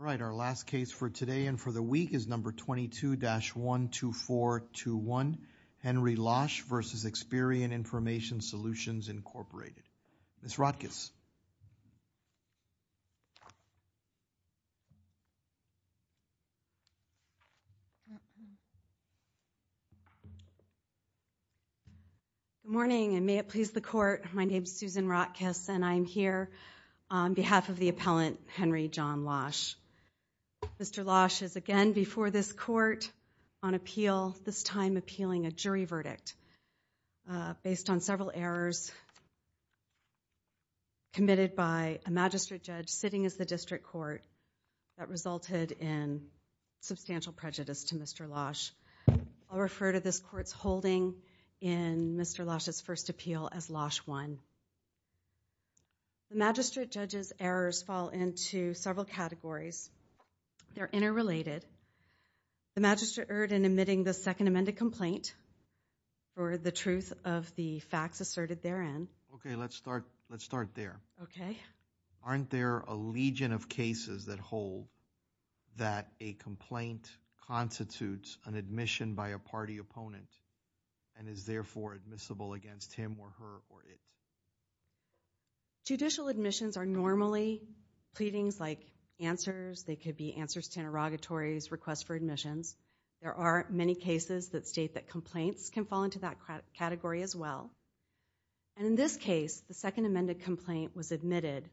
All right, our last case for today and for the week is No. 22-12421, Henry Losch v. Experian Information Solutions, Inc. Ms. Rodkiss. Good morning, and may it please the Court. My name is Susan Rodkiss, and I am here on behalf of the appellant, Henry John Losch. Mr. Losch is again before this Court on appeal, this time appealing a jury verdict based on several errors committed by a magistrate judge sitting as the district court that resulted in substantial prejudice to Mr. Losch. I'll refer to this Court's holding in Mr. Losch's first appeal as Losch 1. The magistrate judge's errors fall into several categories. They're interrelated. The magistrate erred in admitting the second amended complaint for the truth of the facts asserted therein. Okay, let's start there. Okay. Aren't there a legion of cases that hold that a complaint constitutes an admission by a party opponent and is therefore admissible against him or her or it? Judicial admissions are normally pleadings like answers. They could be answers to interrogatories, requests for admissions. There are many cases that state that complaints can fall into that category as well. In this case, the second amended complaint was admitted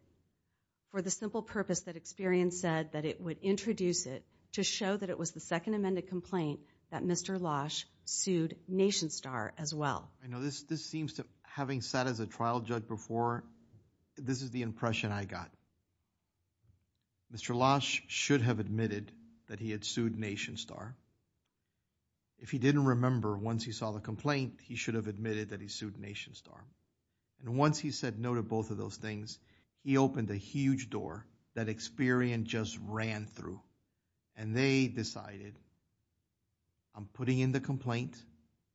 for the simple purpose that Experian said that it would introduce it to show that it was the second amended complaint that Mr. Losch sued Nation Star as well. This seems to, having sat as a trial judge before, this is the impression I got. Mr. Losch should have admitted that he had sued Nation Star. If he didn't remember once he saw the complaint, he should have admitted that he sued Nation Star. And once he said no to both of those things, he opened a huge door that Experian just ran through and they decided, I'm putting in the complaint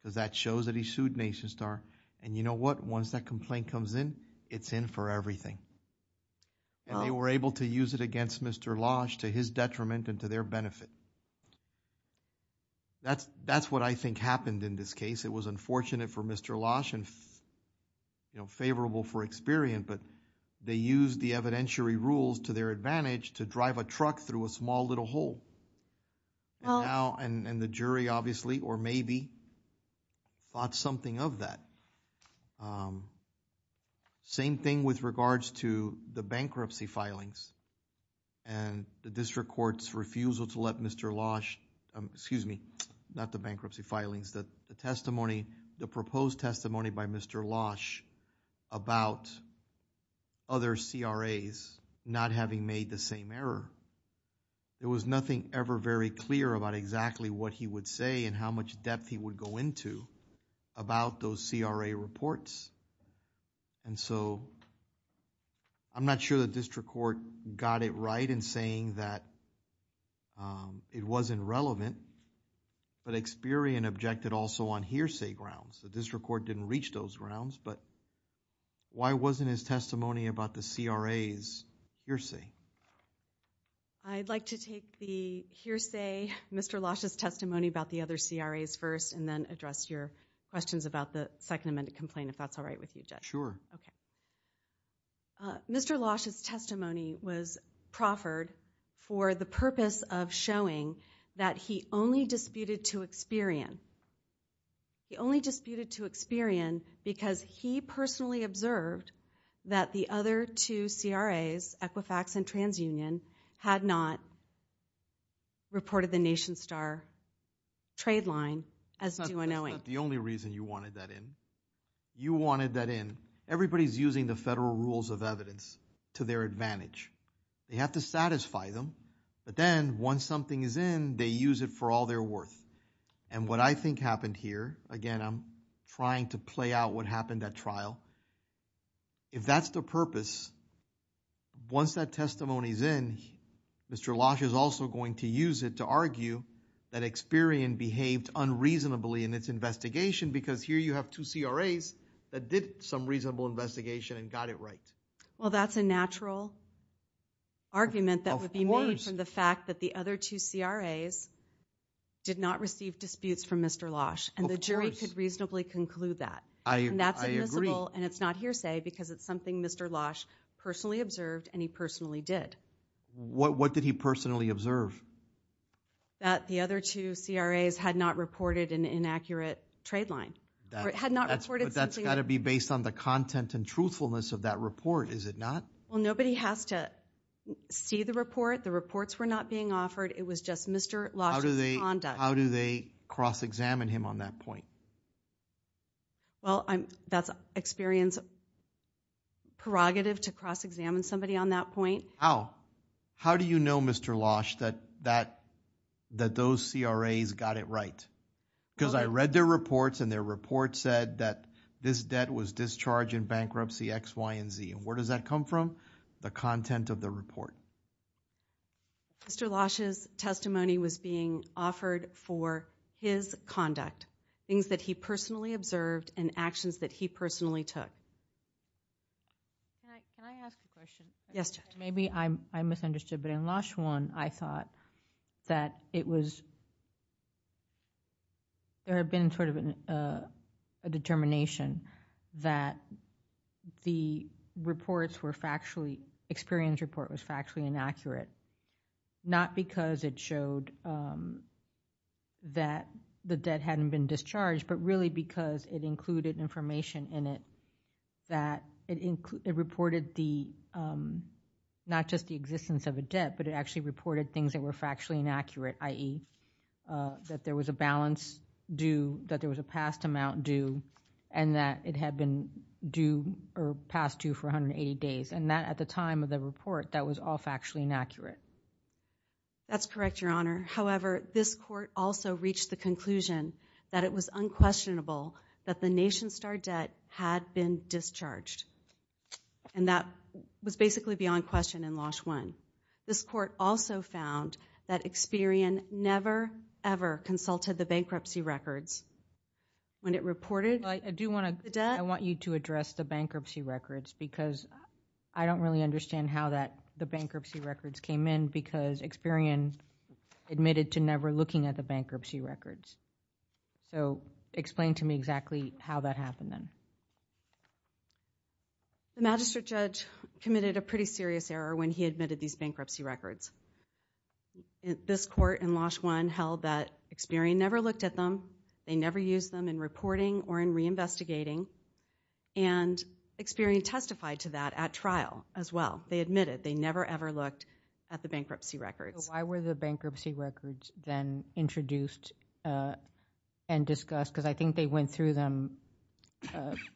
because that shows that he sued Nation Star. And you know what? Once that complaint comes in, it's in for everything and they were able to use it against Mr. Losch to his detriment and to their benefit. That's what I think happened in this case. It was unfortunate for Mr. Losch and favorable for Experian, but they used the evidentiary rules to their advantage to drive a truck through a small little hole and the jury obviously or maybe thought something of that. Same thing with regards to the bankruptcy filings and the district court's refusal to let Mr. Losch, excuse me, not the bankruptcy filings, the testimony, the proposed testimony by Mr. Losch about other CRAs not having made the same error. There was nothing ever very clear about exactly what he would say and how much depth he would go into about those CRA reports. And so, I'm not sure the district court got it right in saying that it wasn't relevant, but Experian objected also on hearsay grounds. The district court didn't reach those grounds, but why wasn't his testimony about the CRAs hearsay? I'd like to take the hearsay, Mr. Losch's testimony about the other CRAs first and then address your questions about the second amended complaint, if that's all right with you, Judge. Sure. Okay. Mr. Losch's testimony was proffered for the purpose of showing that he only disputed to Experian. He only disputed to Experian because he personally observed that the other two CRAs, Equifax and TransUnion, had not reported the Nation Star trade line as due unknowing. That's not the only reason you wanted that in. You wanted that in. Everybody's using the federal rules of evidence to their advantage. They have to satisfy them, but then once something is in, they use it for all their worth. And what I think happened here, again, I'm trying to play out what happened at trial. If that's the purpose, once that testimony's in, Mr. Losch is also going to use it to argue that Experian behaved unreasonably in its investigation because here you have two CRAs that did some reasonable investigation and got it right. Well that's a natural argument that would be made from the fact that the other two CRAs did not receive disputes from Mr. Losch and the jury could reasonably conclude that. I agree. And it's not hearsay because it's something Mr. Losch personally observed and he personally did. What did he personally observe? That the other two CRAs had not reported an inaccurate trade line. Had not reported something. But that's got to be based on the content and truthfulness of that report, is it not? Well nobody has to see the report. The reports were not being offered. It was just Mr. Losch's conduct. How do they cross-examine him on that point? Well, that's Experian's prerogative to cross-examine somebody on that point. How? How do you know, Mr. Losch, that those CRAs got it right? Because I read their reports and their report said that this debt was discharged in bankruptcy X, Y, and Z. And where does that come from? The content of the report. Mr. Losch's testimony was being offered for his conduct. Things that he personally observed and actions that he personally took. Can I ask a question? Yes, Judge. Maybe I misunderstood, but in Losch 1, I thought that it was, there had been sort of a determination that the reports were factually, Experian's report was factually inaccurate. Not because it showed that the debt hadn't been discharged, but really because it included information in it that it reported not just the existence of a debt, but it actually reported things that were factually inaccurate, i.e. that there was a balance due, that there was a past amount due, and that it had been due or past due for 180 days. And that, at the time of the report, that was all factually inaccurate. That's correct, Your Honor. However, this court also reached the conclusion that it was unquestionable that the Nation Star debt had been discharged. And that was basically beyond question in Losch 1. This court also found that Experian never, ever consulted the bankruptcy records when it reported the debt. I want you to address the bankruptcy records, because I don't really understand how that the bankruptcy records came in, because Experian admitted to never looking at the bankruptcy records. So, explain to me exactly how that happened then. The magistrate judge committed a pretty serious error when he admitted these bankruptcy records. This court in Losch 1 held that Experian never looked at them, they never used them in reporting or in re-investigating, and Experian testified to that at trial as well. They admitted they never, ever looked at the bankruptcy records. Why were the bankruptcy records then introduced and discussed? Because I think they went through them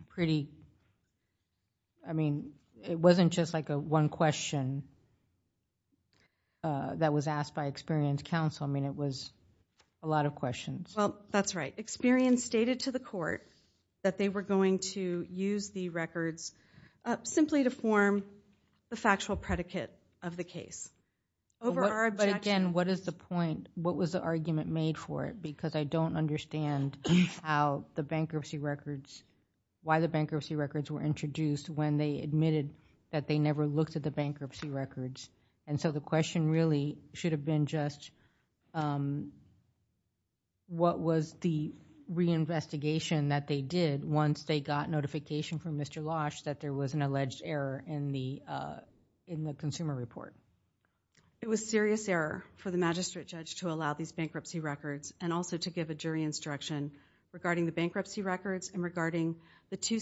pretty, I mean, it wasn't just like a one question that was asked by Experian's counsel, I mean, it was a lot of questions. Well, that's right. Experian stated to the court that they were going to use the records simply to form the factual predicate of the case. But again, what is the point, what was the argument made for it? Because I don't understand how the bankruptcy records, why the bankruptcy records were introduced when they admitted that they never looked at the bankruptcy records. The question really should have been just what was the re-investigation that they did once they got notification from Mr. Losch that there was an alleged error in the consumer report. It was a serious error for the magistrate judge to allow these bankruptcy records and also to give a jury instruction regarding the bankruptcy records and regarding the two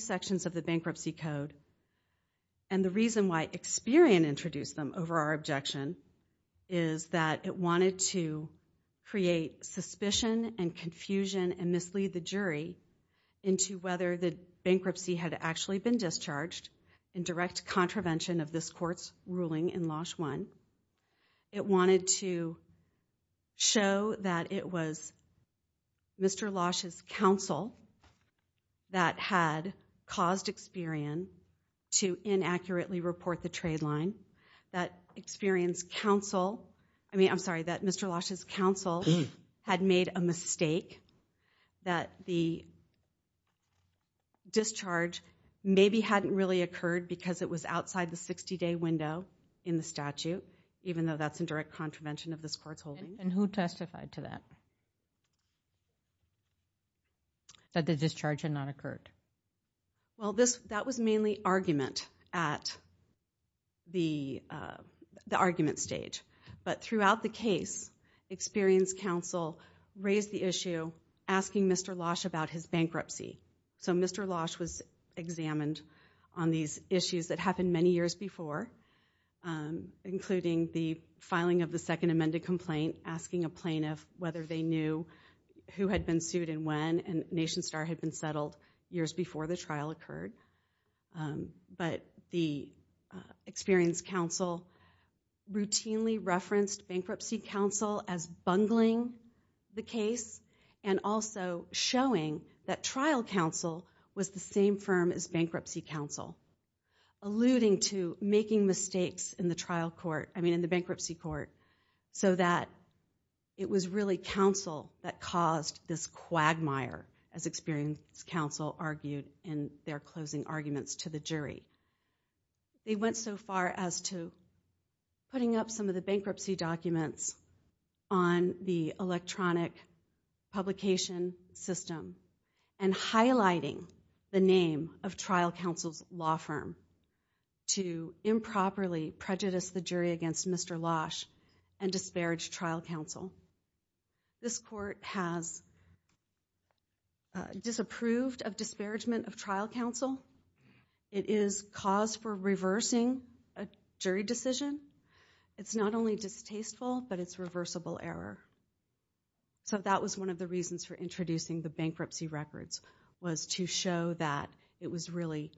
our objection is that it wanted to create suspicion and confusion and mislead the jury into whether the bankruptcy had actually been discharged in direct contravention of this court's ruling in Losch 1. It wanted to show that it was Mr. Losch's counsel that had caused Experian to inaccurately report the trade line, that Experian's counsel, I mean, I'm sorry, that Mr. Losch's counsel had made a mistake, that the discharge maybe hadn't really occurred because it was outside the 60-day window in the statute, even though that's in direct contravention of this court's ruling. And who testified to that, that the discharge had not occurred? Well, that was mainly argument at the argument stage. But throughout the case, Experian's counsel raised the issue, asking Mr. Losch about his bankruptcy. So, Mr. Losch was examined on these issues that happened many years before, including the filing of the second amended complaint, asking a plaintiff whether they knew who had been settled years before the trial occurred. But the Experian's counsel routinely referenced bankruptcy counsel as bungling the case and also showing that trial counsel was the same firm as bankruptcy counsel, alluding to making mistakes in the trial court, I mean, in the bankruptcy court, so that it was really counsel that caused this quagmire, as Experian's counsel argued in their closing arguments to the jury. They went so far as to putting up some of the bankruptcy documents on the electronic publication system and highlighting the name of trial counsel's law firm to improperly prejudice the jury against Mr. Losch and disparage trial counsel. This court has disapproved of disparagement of trial counsel. It is cause for reversing a jury decision. It's not only distasteful, but it's reversible error. So that was one of the reasons for introducing the bankruptcy records, was to show that it was really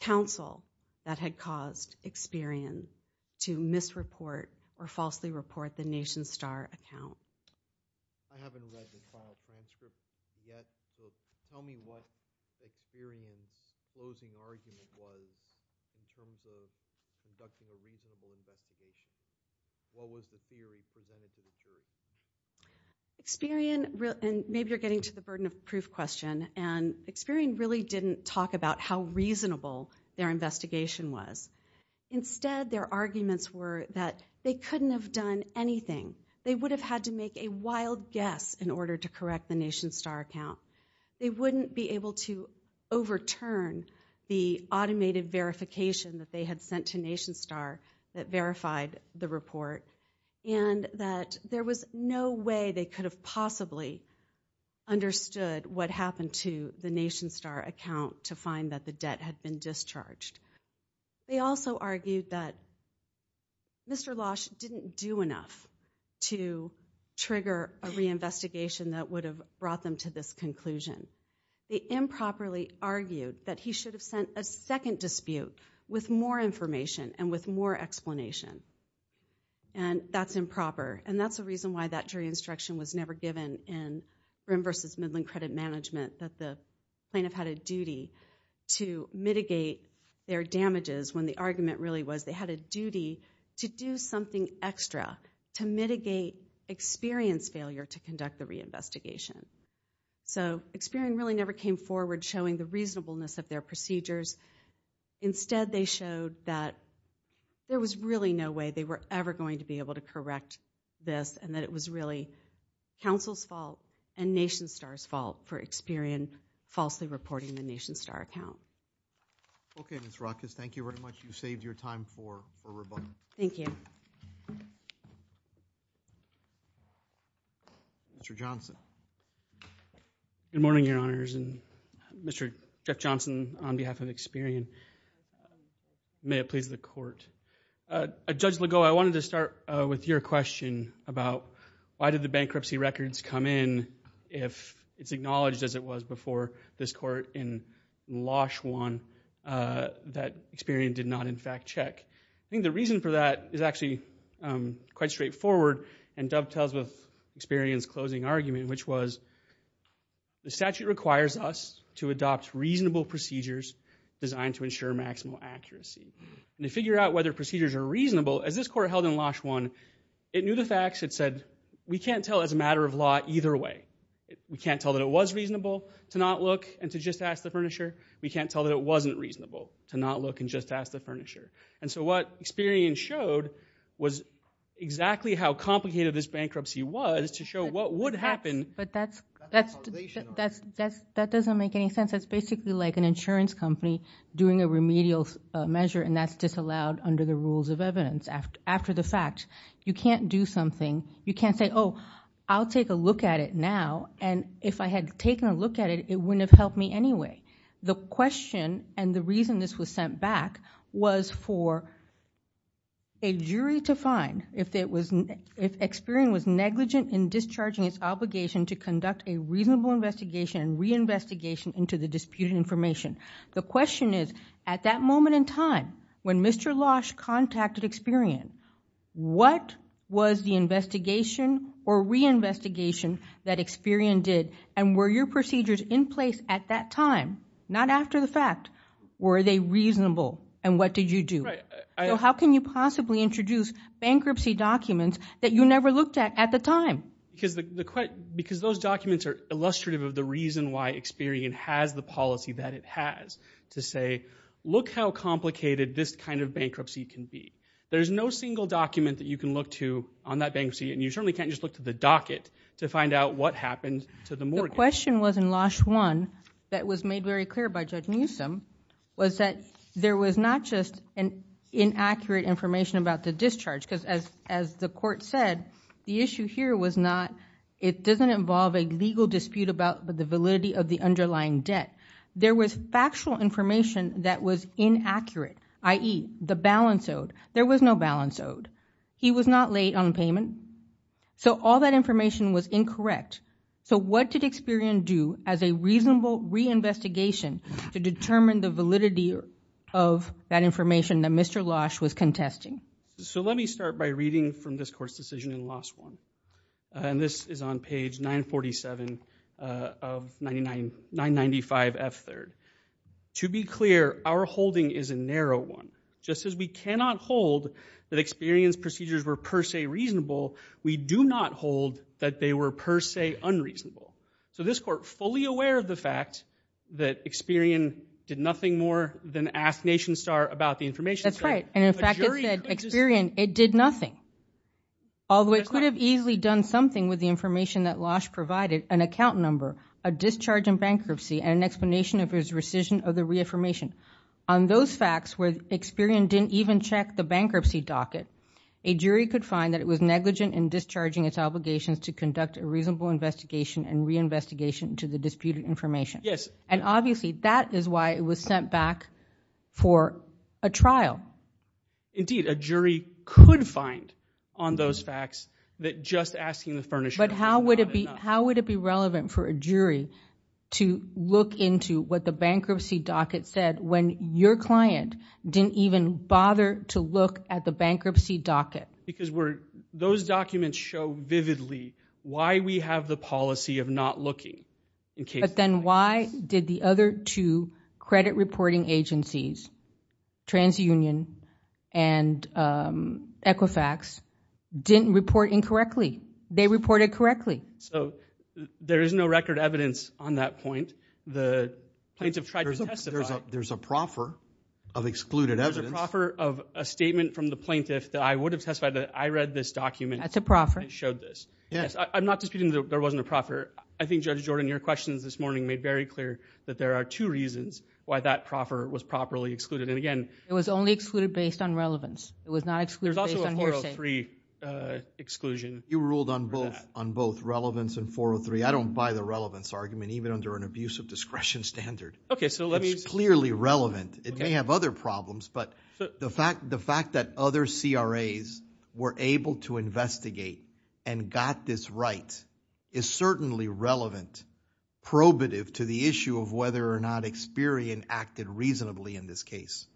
counsel that had caused Experian to misreport or falsely report the Nation Account. I haven't read the file transcript yet, but tell me what Experian's closing argument was in terms of conducting a reasonable investigation. What was the theory presented to the jury? Experian, and maybe you're getting to the burden of proof question, and Experian really didn't talk about how reasonable their investigation was. Instead, their arguments were that they couldn't have done anything. They would have had to make a wild guess in order to correct the Nation Star account. They wouldn't be able to overturn the automated verification that they had sent to Nation Star that verified the report, and that there was no way they could have possibly understood what happened to the Nation Star account to find that the debt had been discharged. They also argued that Mr. Losh didn't do enough to trigger a reinvestigation that would have brought them to this conclusion. They improperly argued that he should have sent a second dispute with more information and with more explanation, and that's improper, and that's the reason why that jury instruction was never given in Brim v. Midland Credit Management, that the plaintiff had a duty to mitigate their damages when the argument really was they had a duty to do something extra to mitigate Experian's failure to conduct the reinvestigation. So Experian really never came forward showing the reasonableness of their procedures. Instead, they showed that there was really no way they were ever going to be able to correct this and that it was really counsel's fault and Nation Star's fault for Experian falsely reporting the Nation Star account. Okay, Ms. Rockus, thank you very much. You saved your time for rebuttal. Thank you. Mr. Johnson. Good morning, Your Honors, and Mr. Jeff Johnson on behalf of Experian. May it please the Court. Judge Legault, I wanted to start with your question about why did the bankruptcy records come in if it's acknowledged as it was before this Court in Losh 1 that Experian did not in fact check? I think the reason for that is actually quite straightforward and dovetails with Experian's closing argument, which was the statute requires us to adopt reasonable procedures designed to ensure maximal accuracy. To figure out whether procedures are reasonable, as this Court held in Losh 1, it knew the matter of law either way. We can't tell that it was reasonable to not look and to just ask the furnisher. We can't tell that it wasn't reasonable to not look and just ask the furnisher. And so what Experian showed was exactly how complicated this bankruptcy was to show what would happen. But that doesn't make any sense. That's basically like an insurance company doing a remedial measure and that's disallowed under the rules of evidence after the fact. You can't do something. You can't say, oh, I'll take a look at it now and if I had taken a look at it, it wouldn't have helped me anyway. The question and the reason this was sent back was for a jury to find if Experian was negligent in discharging its obligation to conduct a reasonable investigation and reinvestigation into the disputed information. The question is, at that moment in time, when Mr. Losh contacted Experian, what was the investigation or reinvestigation that Experian did and were your procedures in place at that time, not after the fact, were they reasonable and what did you do? So how can you possibly introduce bankruptcy documents that you never looked at at the time? Because those documents are illustrative of the reason why Experian has the policy that it has to say, look how complicated this kind of bankruptcy can be. There's no single document that you can look to on that bankruptcy and you certainly can't just look to the docket to find out what happened to the mortgage. The question was in Losh 1 that was made very clear by Judge Newsom was that there was not just inaccurate information about the discharge because as the court said, the issue here was not, it doesn't involve a legal dispute about the validity of the underlying debt. There was factual information that was inaccurate, i.e., the balance owed. There was no balance owed. He was not late on payment. So all that information was incorrect. So what did Experian do as a reasonable reinvestigation to determine the validity of that information that Mr. Losh was contesting? So let me start by reading from this court's decision in Losh 1. And this is on page 947 of 995F3rd. To be clear, our holding is a narrow one. Just as we cannot hold that Experian's procedures were per se reasonable, we do not hold that they were per se unreasonable. So this court fully aware of the fact that Experian did nothing more than ask NationStar about the information. That's right. And in fact, it said Experian, it did nothing. Although it could have easily done something with the information that Losh provided, an account number, a discharge in bankruptcy, and an explanation of his rescission of the reaffirmation. On those facts where Experian didn't even check the bankruptcy docket, a jury could find that it was negligent in discharging its obligations to conduct a reasonable investigation and reinvestigation into the disputed information. Yes. And obviously, that is why it was sent back for a trial. Indeed. A jury could find on those facts that just asking the furnishers... But how would it be relevant for a jury to look into what the bankruptcy docket said when your client didn't even bother to look at the bankruptcy docket? Because those documents show vividly why we have the policy of not looking in case... But then why did the other two credit reporting agencies, TransUnion and Equifax, didn't report incorrectly? They reported correctly. So, there is no record evidence on that point. The plaintiff tried to testify... There's a proffer of excluded evidence. There's a proffer of a statement from the plaintiff that I would have testified that I read this document... That's a proffer. ...that showed this. Yes. I'm not disputing that there wasn't a proffer. I think, Judge Jordan, your questions this morning made very clear that there are two reasons why that proffer was properly excluded. And again... It was only excluded based on relevance. It was not excluded based on hearsay. There's also a 403 exclusion. You ruled on both relevance and 403. I don't buy the relevance argument, even under an abuse of discretion standard. Okay. So, let me... It's clearly relevant. It may have other problems, but the fact that other CRAs were able to investigate and got this right is certainly relevant, probative to the issue of whether or not Experian acted reasonably in this case.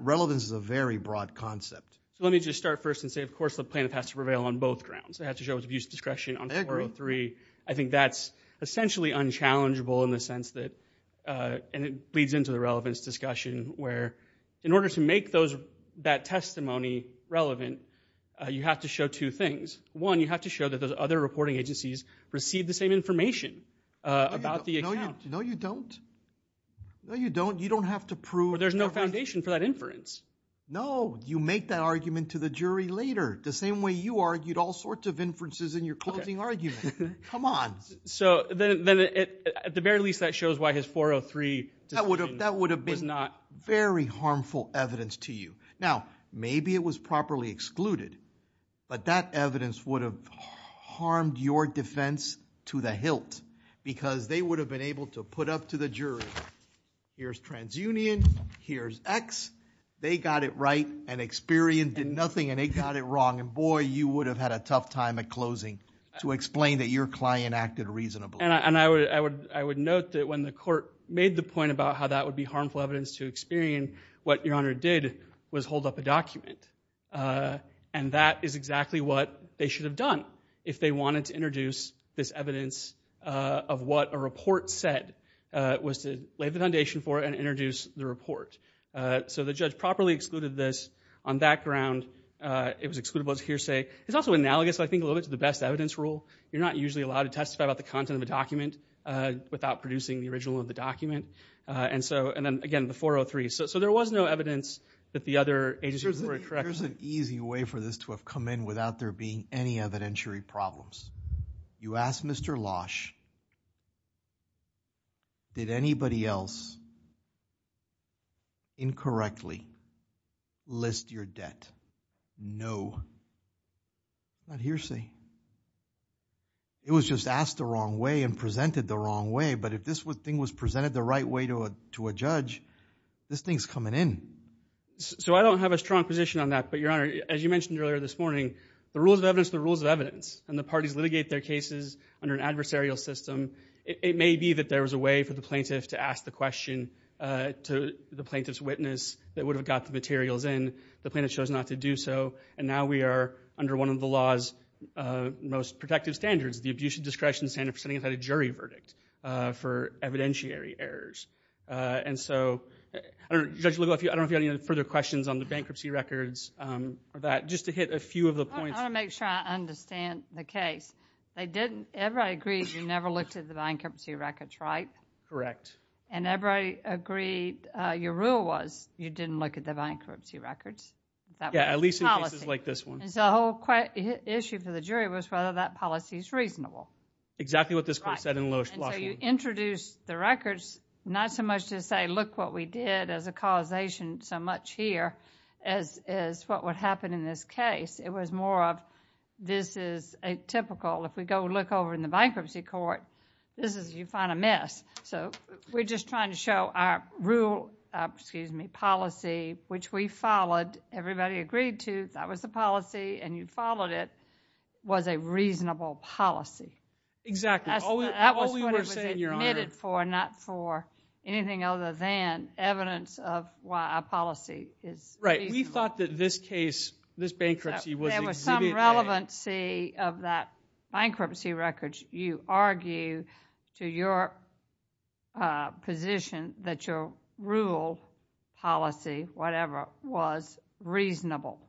Relevance is a very broad concept. Let me just start first and say, of course, the plaintiff has to prevail on both grounds. They have to show abuse of discretion on 403. I think that's essentially unchallengeable in the sense that... And it leads into the relevance discussion where, in order to make that testimony relevant, you have to show two things. One, you have to show that those other reporting agencies received the same information about the account. No, you don't. No, you don't. You don't have to prove... There's no foundation for that inference. No. You make that argument to the jury later, the same way you argued all sorts of inferences in your closing argument. Come on. So, at the very least, that shows why his 403... That would have been very harmful evidence to you. Now, maybe it was properly excluded, but that evidence would have harmed your defense to the hilt because they would have been able to put up to the jury, here's TransUnion, here's X. They got it right and Experian did nothing and they got it wrong. And boy, you would have had a tough time at closing to explain that your client acted reasonably. And I would note that when the court made the point about how that would be harmful evidence to Experian, what Your Honor did was hold up a document. And that is exactly what they should have done if they wanted to introduce this evidence of what a report said, was to lay the foundation for it and introduce the report. So the judge properly excluded this on that ground. It was excludable as a hearsay. It's also analogous, I think, a little bit to the best evidence rule. You're not usually allowed to testify about the content of a document without producing the original of the document. And then, again, the 403. So there was no evidence that the other agencies were correct. Here's an easy way for this to have come in without there being any evidentiary problems. You ask Mr. Losch, did anybody else incorrectly list your debt? No. Not hearsay. It was just asked the wrong way and presented the wrong way. But if this thing was presented the right way to a judge, this thing's coming in. So I don't have a strong position on that. But, Your Honor, as you mentioned earlier this morning, the rules of evidence are the rules of evidence. And the parties litigate their cases under an adversarial system. It may be that there was a way for the plaintiff to ask the question to the plaintiff's witness that would have got the materials in. The plaintiff chose not to do so. And now we are under one of the law's most protective standards, the Abuse of Discretion Standard, for setting up a jury verdict for evidentiary errors. And so, Judge Legal, I don't know if you have any further questions on the bankruptcy records or that. Just to hit a few of the points. I want to make sure I understand the case. Everybody agrees you never looked at the bankruptcy records, right? Correct. And everybody agreed your rule was you didn't look at the bankruptcy records? Yeah, at least in cases like this one. And so the whole issue for the jury was whether that policy is reasonable. Exactly what this court said in the lowest law. And so you introduced the records, not so much to say, look what we did as a causation so much here as what would happen in this case. It was more of this is a typical. If we go look over in the bankruptcy court, this is you find a mess. So we're just trying to show our rule, excuse me, policy, which we followed. And everybody agreed to, that was the policy, and you followed it, was a reasonable policy. Exactly. That was what it was admitted for, not for anything other than evidence of why our policy is reasonable. Right. We thought that this case, this bankruptcy was exhibiting. There was some relevancy of that bankruptcy records. to your position that your rule, policy, whatever, was reasonable.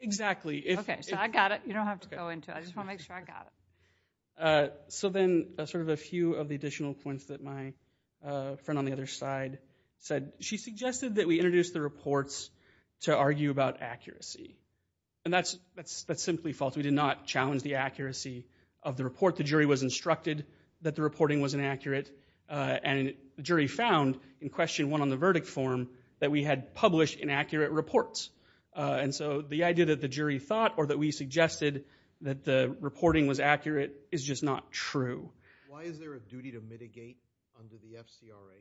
Exactly. Okay, so I got it. You don't have to go into it. I just want to make sure I got it. So then sort of a few of the additional points that my friend on the other side said. She suggested that we introduce the reports to argue about accuracy. And that's simply false. We did not challenge the accuracy of the report. The jury was instructed that the reporting was inaccurate. And the jury found in question one on the verdict form that we had published inaccurate reports. And so the idea that the jury thought or that we suggested that the reporting was accurate is just not true. Why is there a duty to mitigate under the FCRA?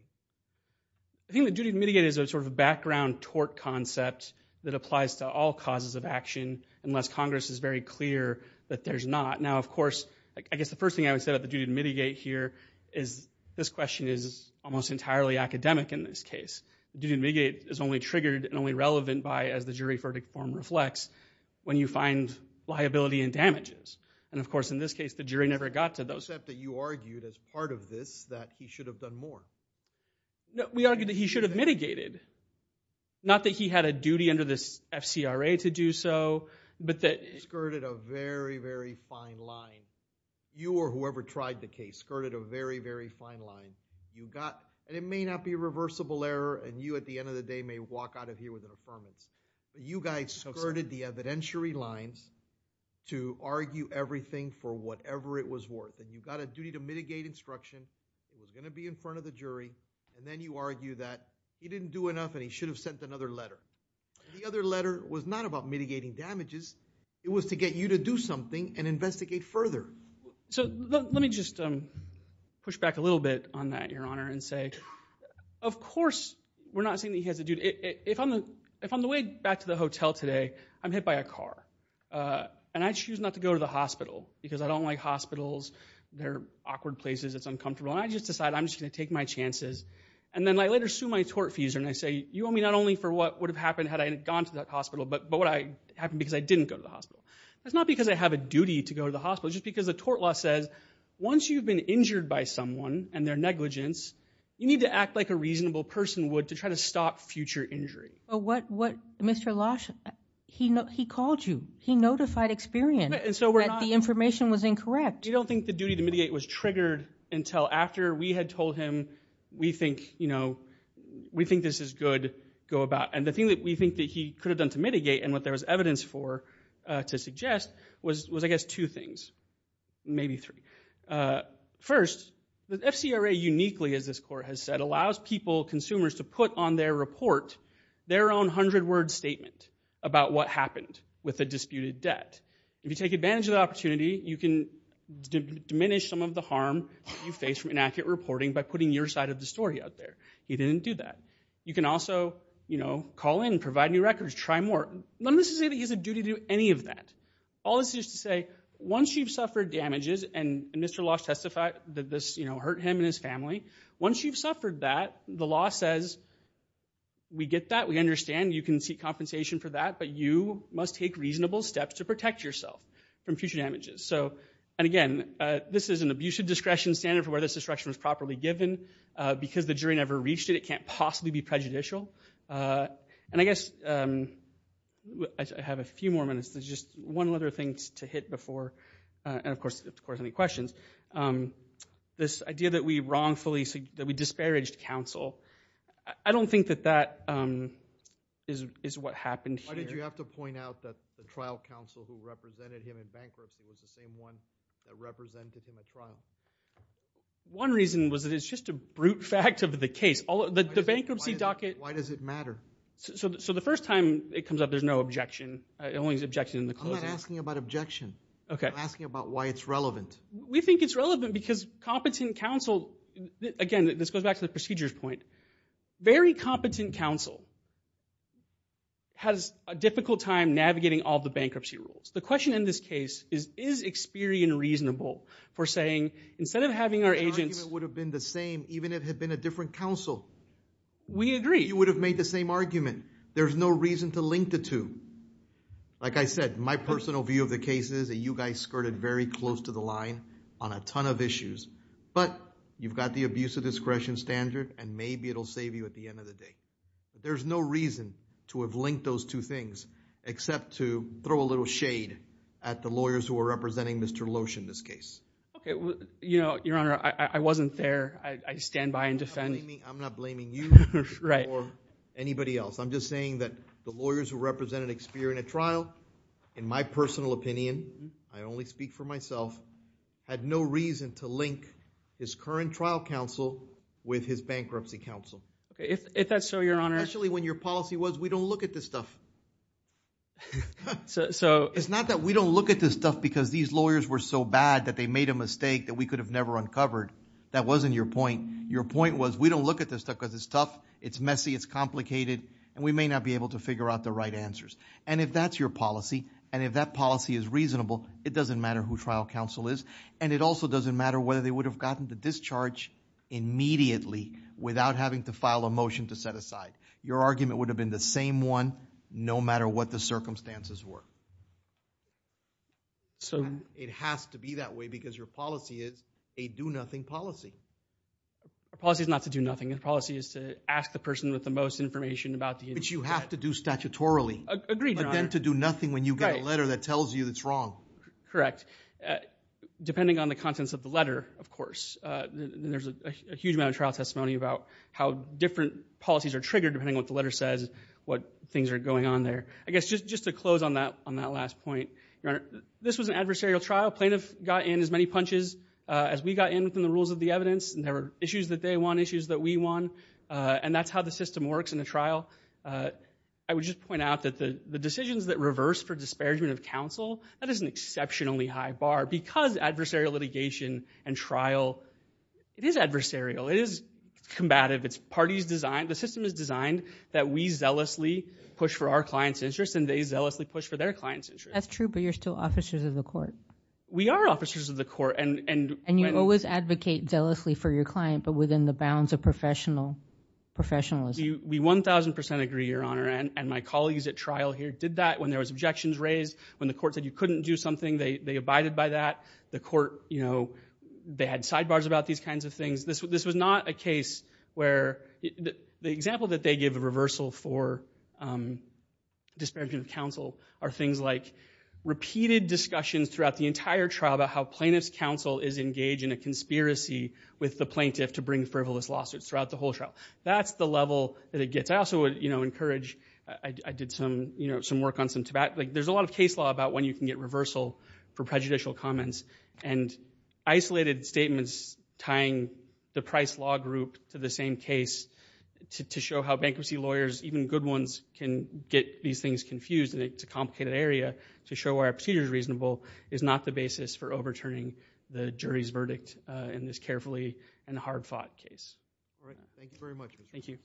I think the duty to mitigate is sort of a background tort concept that applies to all causes of action, unless Congress is very clear that there's not. Now, of course, I guess the first thing I would say about the duty to mitigate here is this question is almost entirely academic in this case. The duty to mitigate is only triggered and only relevant by, as the jury verdict form reflects, when you find liability and damages. And, of course, in this case the jury never got to those. Except that you argued as part of this that he should have done more. No, we argued that he should have mitigated. Not that he had a duty under this FCRA to do so. You skirted a very, very fine line. You or whoever tried the case skirted a very, very fine line. And it may not be a reversible error, and you at the end of the day may walk out of here with an affirmance. You guys skirted the evidentiary lines to argue everything for whatever it was worth. And you got a duty to mitigate instruction. It was going to be in front of the jury. And then you argue that he didn't do enough and he should have sent another letter. The other letter was not about mitigating damages. It was to get you to do something and investigate further. So let me just push back a little bit on that, Your Honor, and say, of course we're not saying that he has a duty. If I'm on the way back to the hotel today, I'm hit by a car. And I choose not to go to the hospital because I don't like hospitals. They're awkward places. It's uncomfortable. And I just decide I'm just going to take my chances. And then I later sue my tortfeasor and I say, you owe me not only for what would have happened had I gone to that hospital, but what would have happened because I didn't go to the hospital. It's not because I have a duty to go to the hospital. It's just because the tort law says once you've been injured by someone and their negligence, you need to act like a reasonable person would to try to stop future injury. But what Mr. Losch, he called you. He notified Experian that the information was incorrect. We don't think the duty to mitigate was triggered until after we had told him we think, you know, we think this is good, go about. And the thing that we think that he could have done to mitigate and what there was evidence for to suggest was, I guess, two things, maybe three. First, the FCRA uniquely, as this court has said, allows people, consumers, to put on their report their own hundred-word statement about what happened with a disputed debt. If you take advantage of the opportunity, you can diminish some of the harm you face from inaccurate reporting by putting your side of the story out there. He didn't do that. You can also, you know, call in, provide new records, try more. None of this is that he has a duty to do any of that. All this is to say once you've suffered damages and Mr. Losch testified that this, you know, hurt him and his family, once you've suffered that, the law says we get that, we understand, you can seek compensation for that, but you must take reasonable steps to protect yourself from future damages. So, and again, this is an abusive discretion standard for where this instruction was properly given. Because the jury never reached it, it can't possibly be prejudicial. And I guess I have a few more minutes. There's just one other thing to hit before, and of course, if there's any questions, this idea that we wrongfully, that we disparaged counsel. I don't think that that is what happened here. Why did you have to point out that the trial counsel who represented him in bankruptcy was the same one that represented him at trial? One reason was that it's just a brute fact of the case. The bankruptcy docket. Why does it matter? So the first time it comes up, there's no objection. It only is objected in the closing. I'm not asking about objection. Okay. I'm asking about why it's relevant. We think it's relevant because competent counsel, again, this goes back to the procedures point. Very competent counsel has a difficult time navigating all the bankruptcy rules. The question in this case is, is Experian reasonable for saying, instead of having our agents... Which argument would have been the same even if it had been a different counsel? We agree. You would have made the same argument. There's no reason to link the two. Like I said, my personal view of the case is that you guys skirted very close to the line on a ton of issues. But you've got the abuse of discretion standard, and maybe it will save you at the end of the day. There's no reason to have linked those two things except to throw a little shade at the lawyers who are representing Mr. Losh in this case. Your Honor, I wasn't there. I stand by and defend. I'm not blaming you or anybody else. I'm just saying that the lawyers who represented Experian at trial, in my personal opinion, I only speak for myself, had no reason to link his current trial counsel with his bankruptcy counsel. If that's so, Your Honor. Especially when your policy was we don't look at this stuff. It's not that we don't look at this stuff because these lawyers were so bad that they made a mistake that we could have never uncovered. That wasn't your point. Your point was we don't look at this stuff because it's tough, it's messy, it's complicated, and we may not be able to figure out the right answers. And if that's your policy, and if that policy is reasonable, it doesn't matter who trial counsel is, and it also doesn't matter whether they would have gotten the discharge immediately without having to file a motion to set aside. Your argument would have been the same one no matter what the circumstances were. It has to be that way because your policy is a do-nothing policy. Our policy is not to do nothing. Our policy is to ask the person with the most information about the incident. Which you have to do statutorily. Agreed, Your Honor. But then to do nothing when you get a letter that tells you it's wrong. Correct. Depending on the contents of the letter, of course. There's a huge amount of trial testimony about how different policies are triggered depending on what the letter says, what things are going on there. I guess just to close on that last point, Your Honor, this was an adversarial trial. Plaintiff got in as many punches as we got in from the rules of the evidence. And there were issues that they won, issues that we won. And that's how the system works in a trial. I would just point out that the decisions that reverse for disparagement of counsel, that is an exceptionally high bar. Because adversarial litigation and trial, it is adversarial. It is combative. The system is designed that we zealously push for our clients' interests and they zealously push for their clients' interests. That's true, but you're still officers of the court. We are officers of the court. And you always advocate zealously for your client but within the bounds of professionalism. We 1,000% agree, Your Honor. And my colleagues at trial here did that. When there was objections raised, when the court said you couldn't do something, they abided by that. The court, you know, they had sidebars about these kinds of things. This was not a case where the example that they give reversal for disparagement of counsel are things like repeated discussions throughout the entire trial about how plaintiff's counsel is engaged in a conspiracy with the plaintiff to bring frivolous lawsuits throughout the whole trial. That's the level that it gets. I also would, you know, encourage, I did some, you know, some work on some tobacco. There's a lot of case law about when you can get reversal for prejudicial comments. And isolated statements tying the Price Law Group to the same case to show how bankruptcy lawyers, even good ones, can get these things confused. And it's a complicated area to show why a procedure is reasonable is not the basis for overturning the jury's verdict in this carefully and hard-fought case. All right. Thank you very much. Thank you.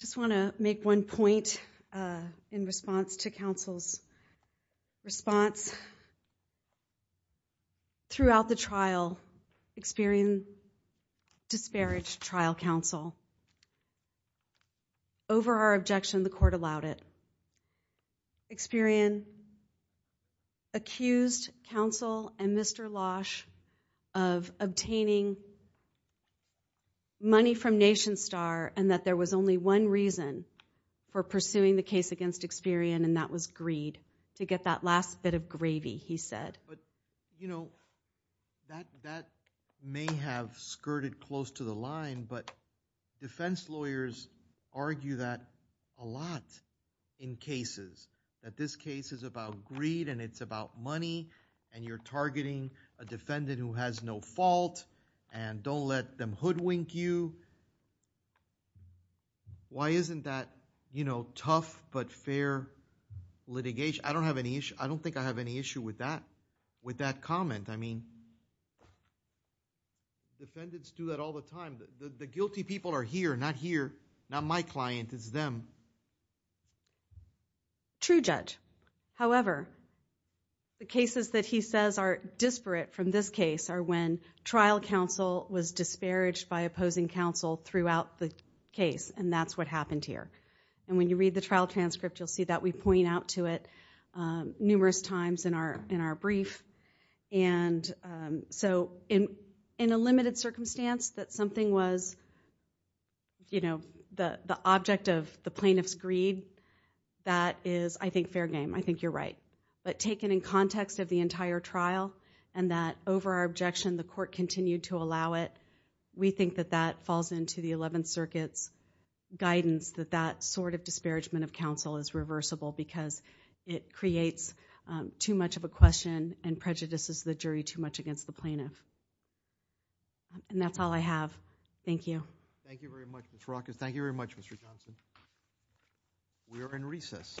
I just want to make one point in response to counsel's response. Throughout the trial, Experian disparaged trial counsel. Over our objection, the court allowed it. Experian accused counsel and Mr. Losh of obtaining money from Nation Star and that there was only one reason for pursuing the case against Experian, and that was greed. To get that last bit of gravy, he said. But, you know, that may have skirted close to the line, but defense lawyers argue that a lot in cases. That this case is about greed and it's about money and you're targeting a defendant who has no fault and don't let them hoodwink you. Why isn't that, you know, tough but fair litigation? I don't have any issue. I don't think I have any issue with that comment. I mean, defendants do that all the time. The guilty people are here, not here, not my client. It's them. True, Judge. However, the cases that he says are disparate from this case are when trial counsel was disparaged by opposing counsel throughout the case, and that's what happened here. And when you read the trial transcript, you'll see that we point out to it numerous times in our brief. And so in a limited circumstance that something was, you know, the object of the plaintiff's greed, that is, I think, fair game. I think you're right. But taken in context of the entire trial and that over our objection, the court continued to allow it, we think that that falls into the 11th Circuit's guidance that that sort of disparagement of counsel is reversible because it creates too much of a question and prejudices the jury too much against the plaintiff. And that's all I have. Thank you. Thank you very much, Ms. Rockett. Thank you very much, Mr. Johnson. We are in recess. Bye-bye.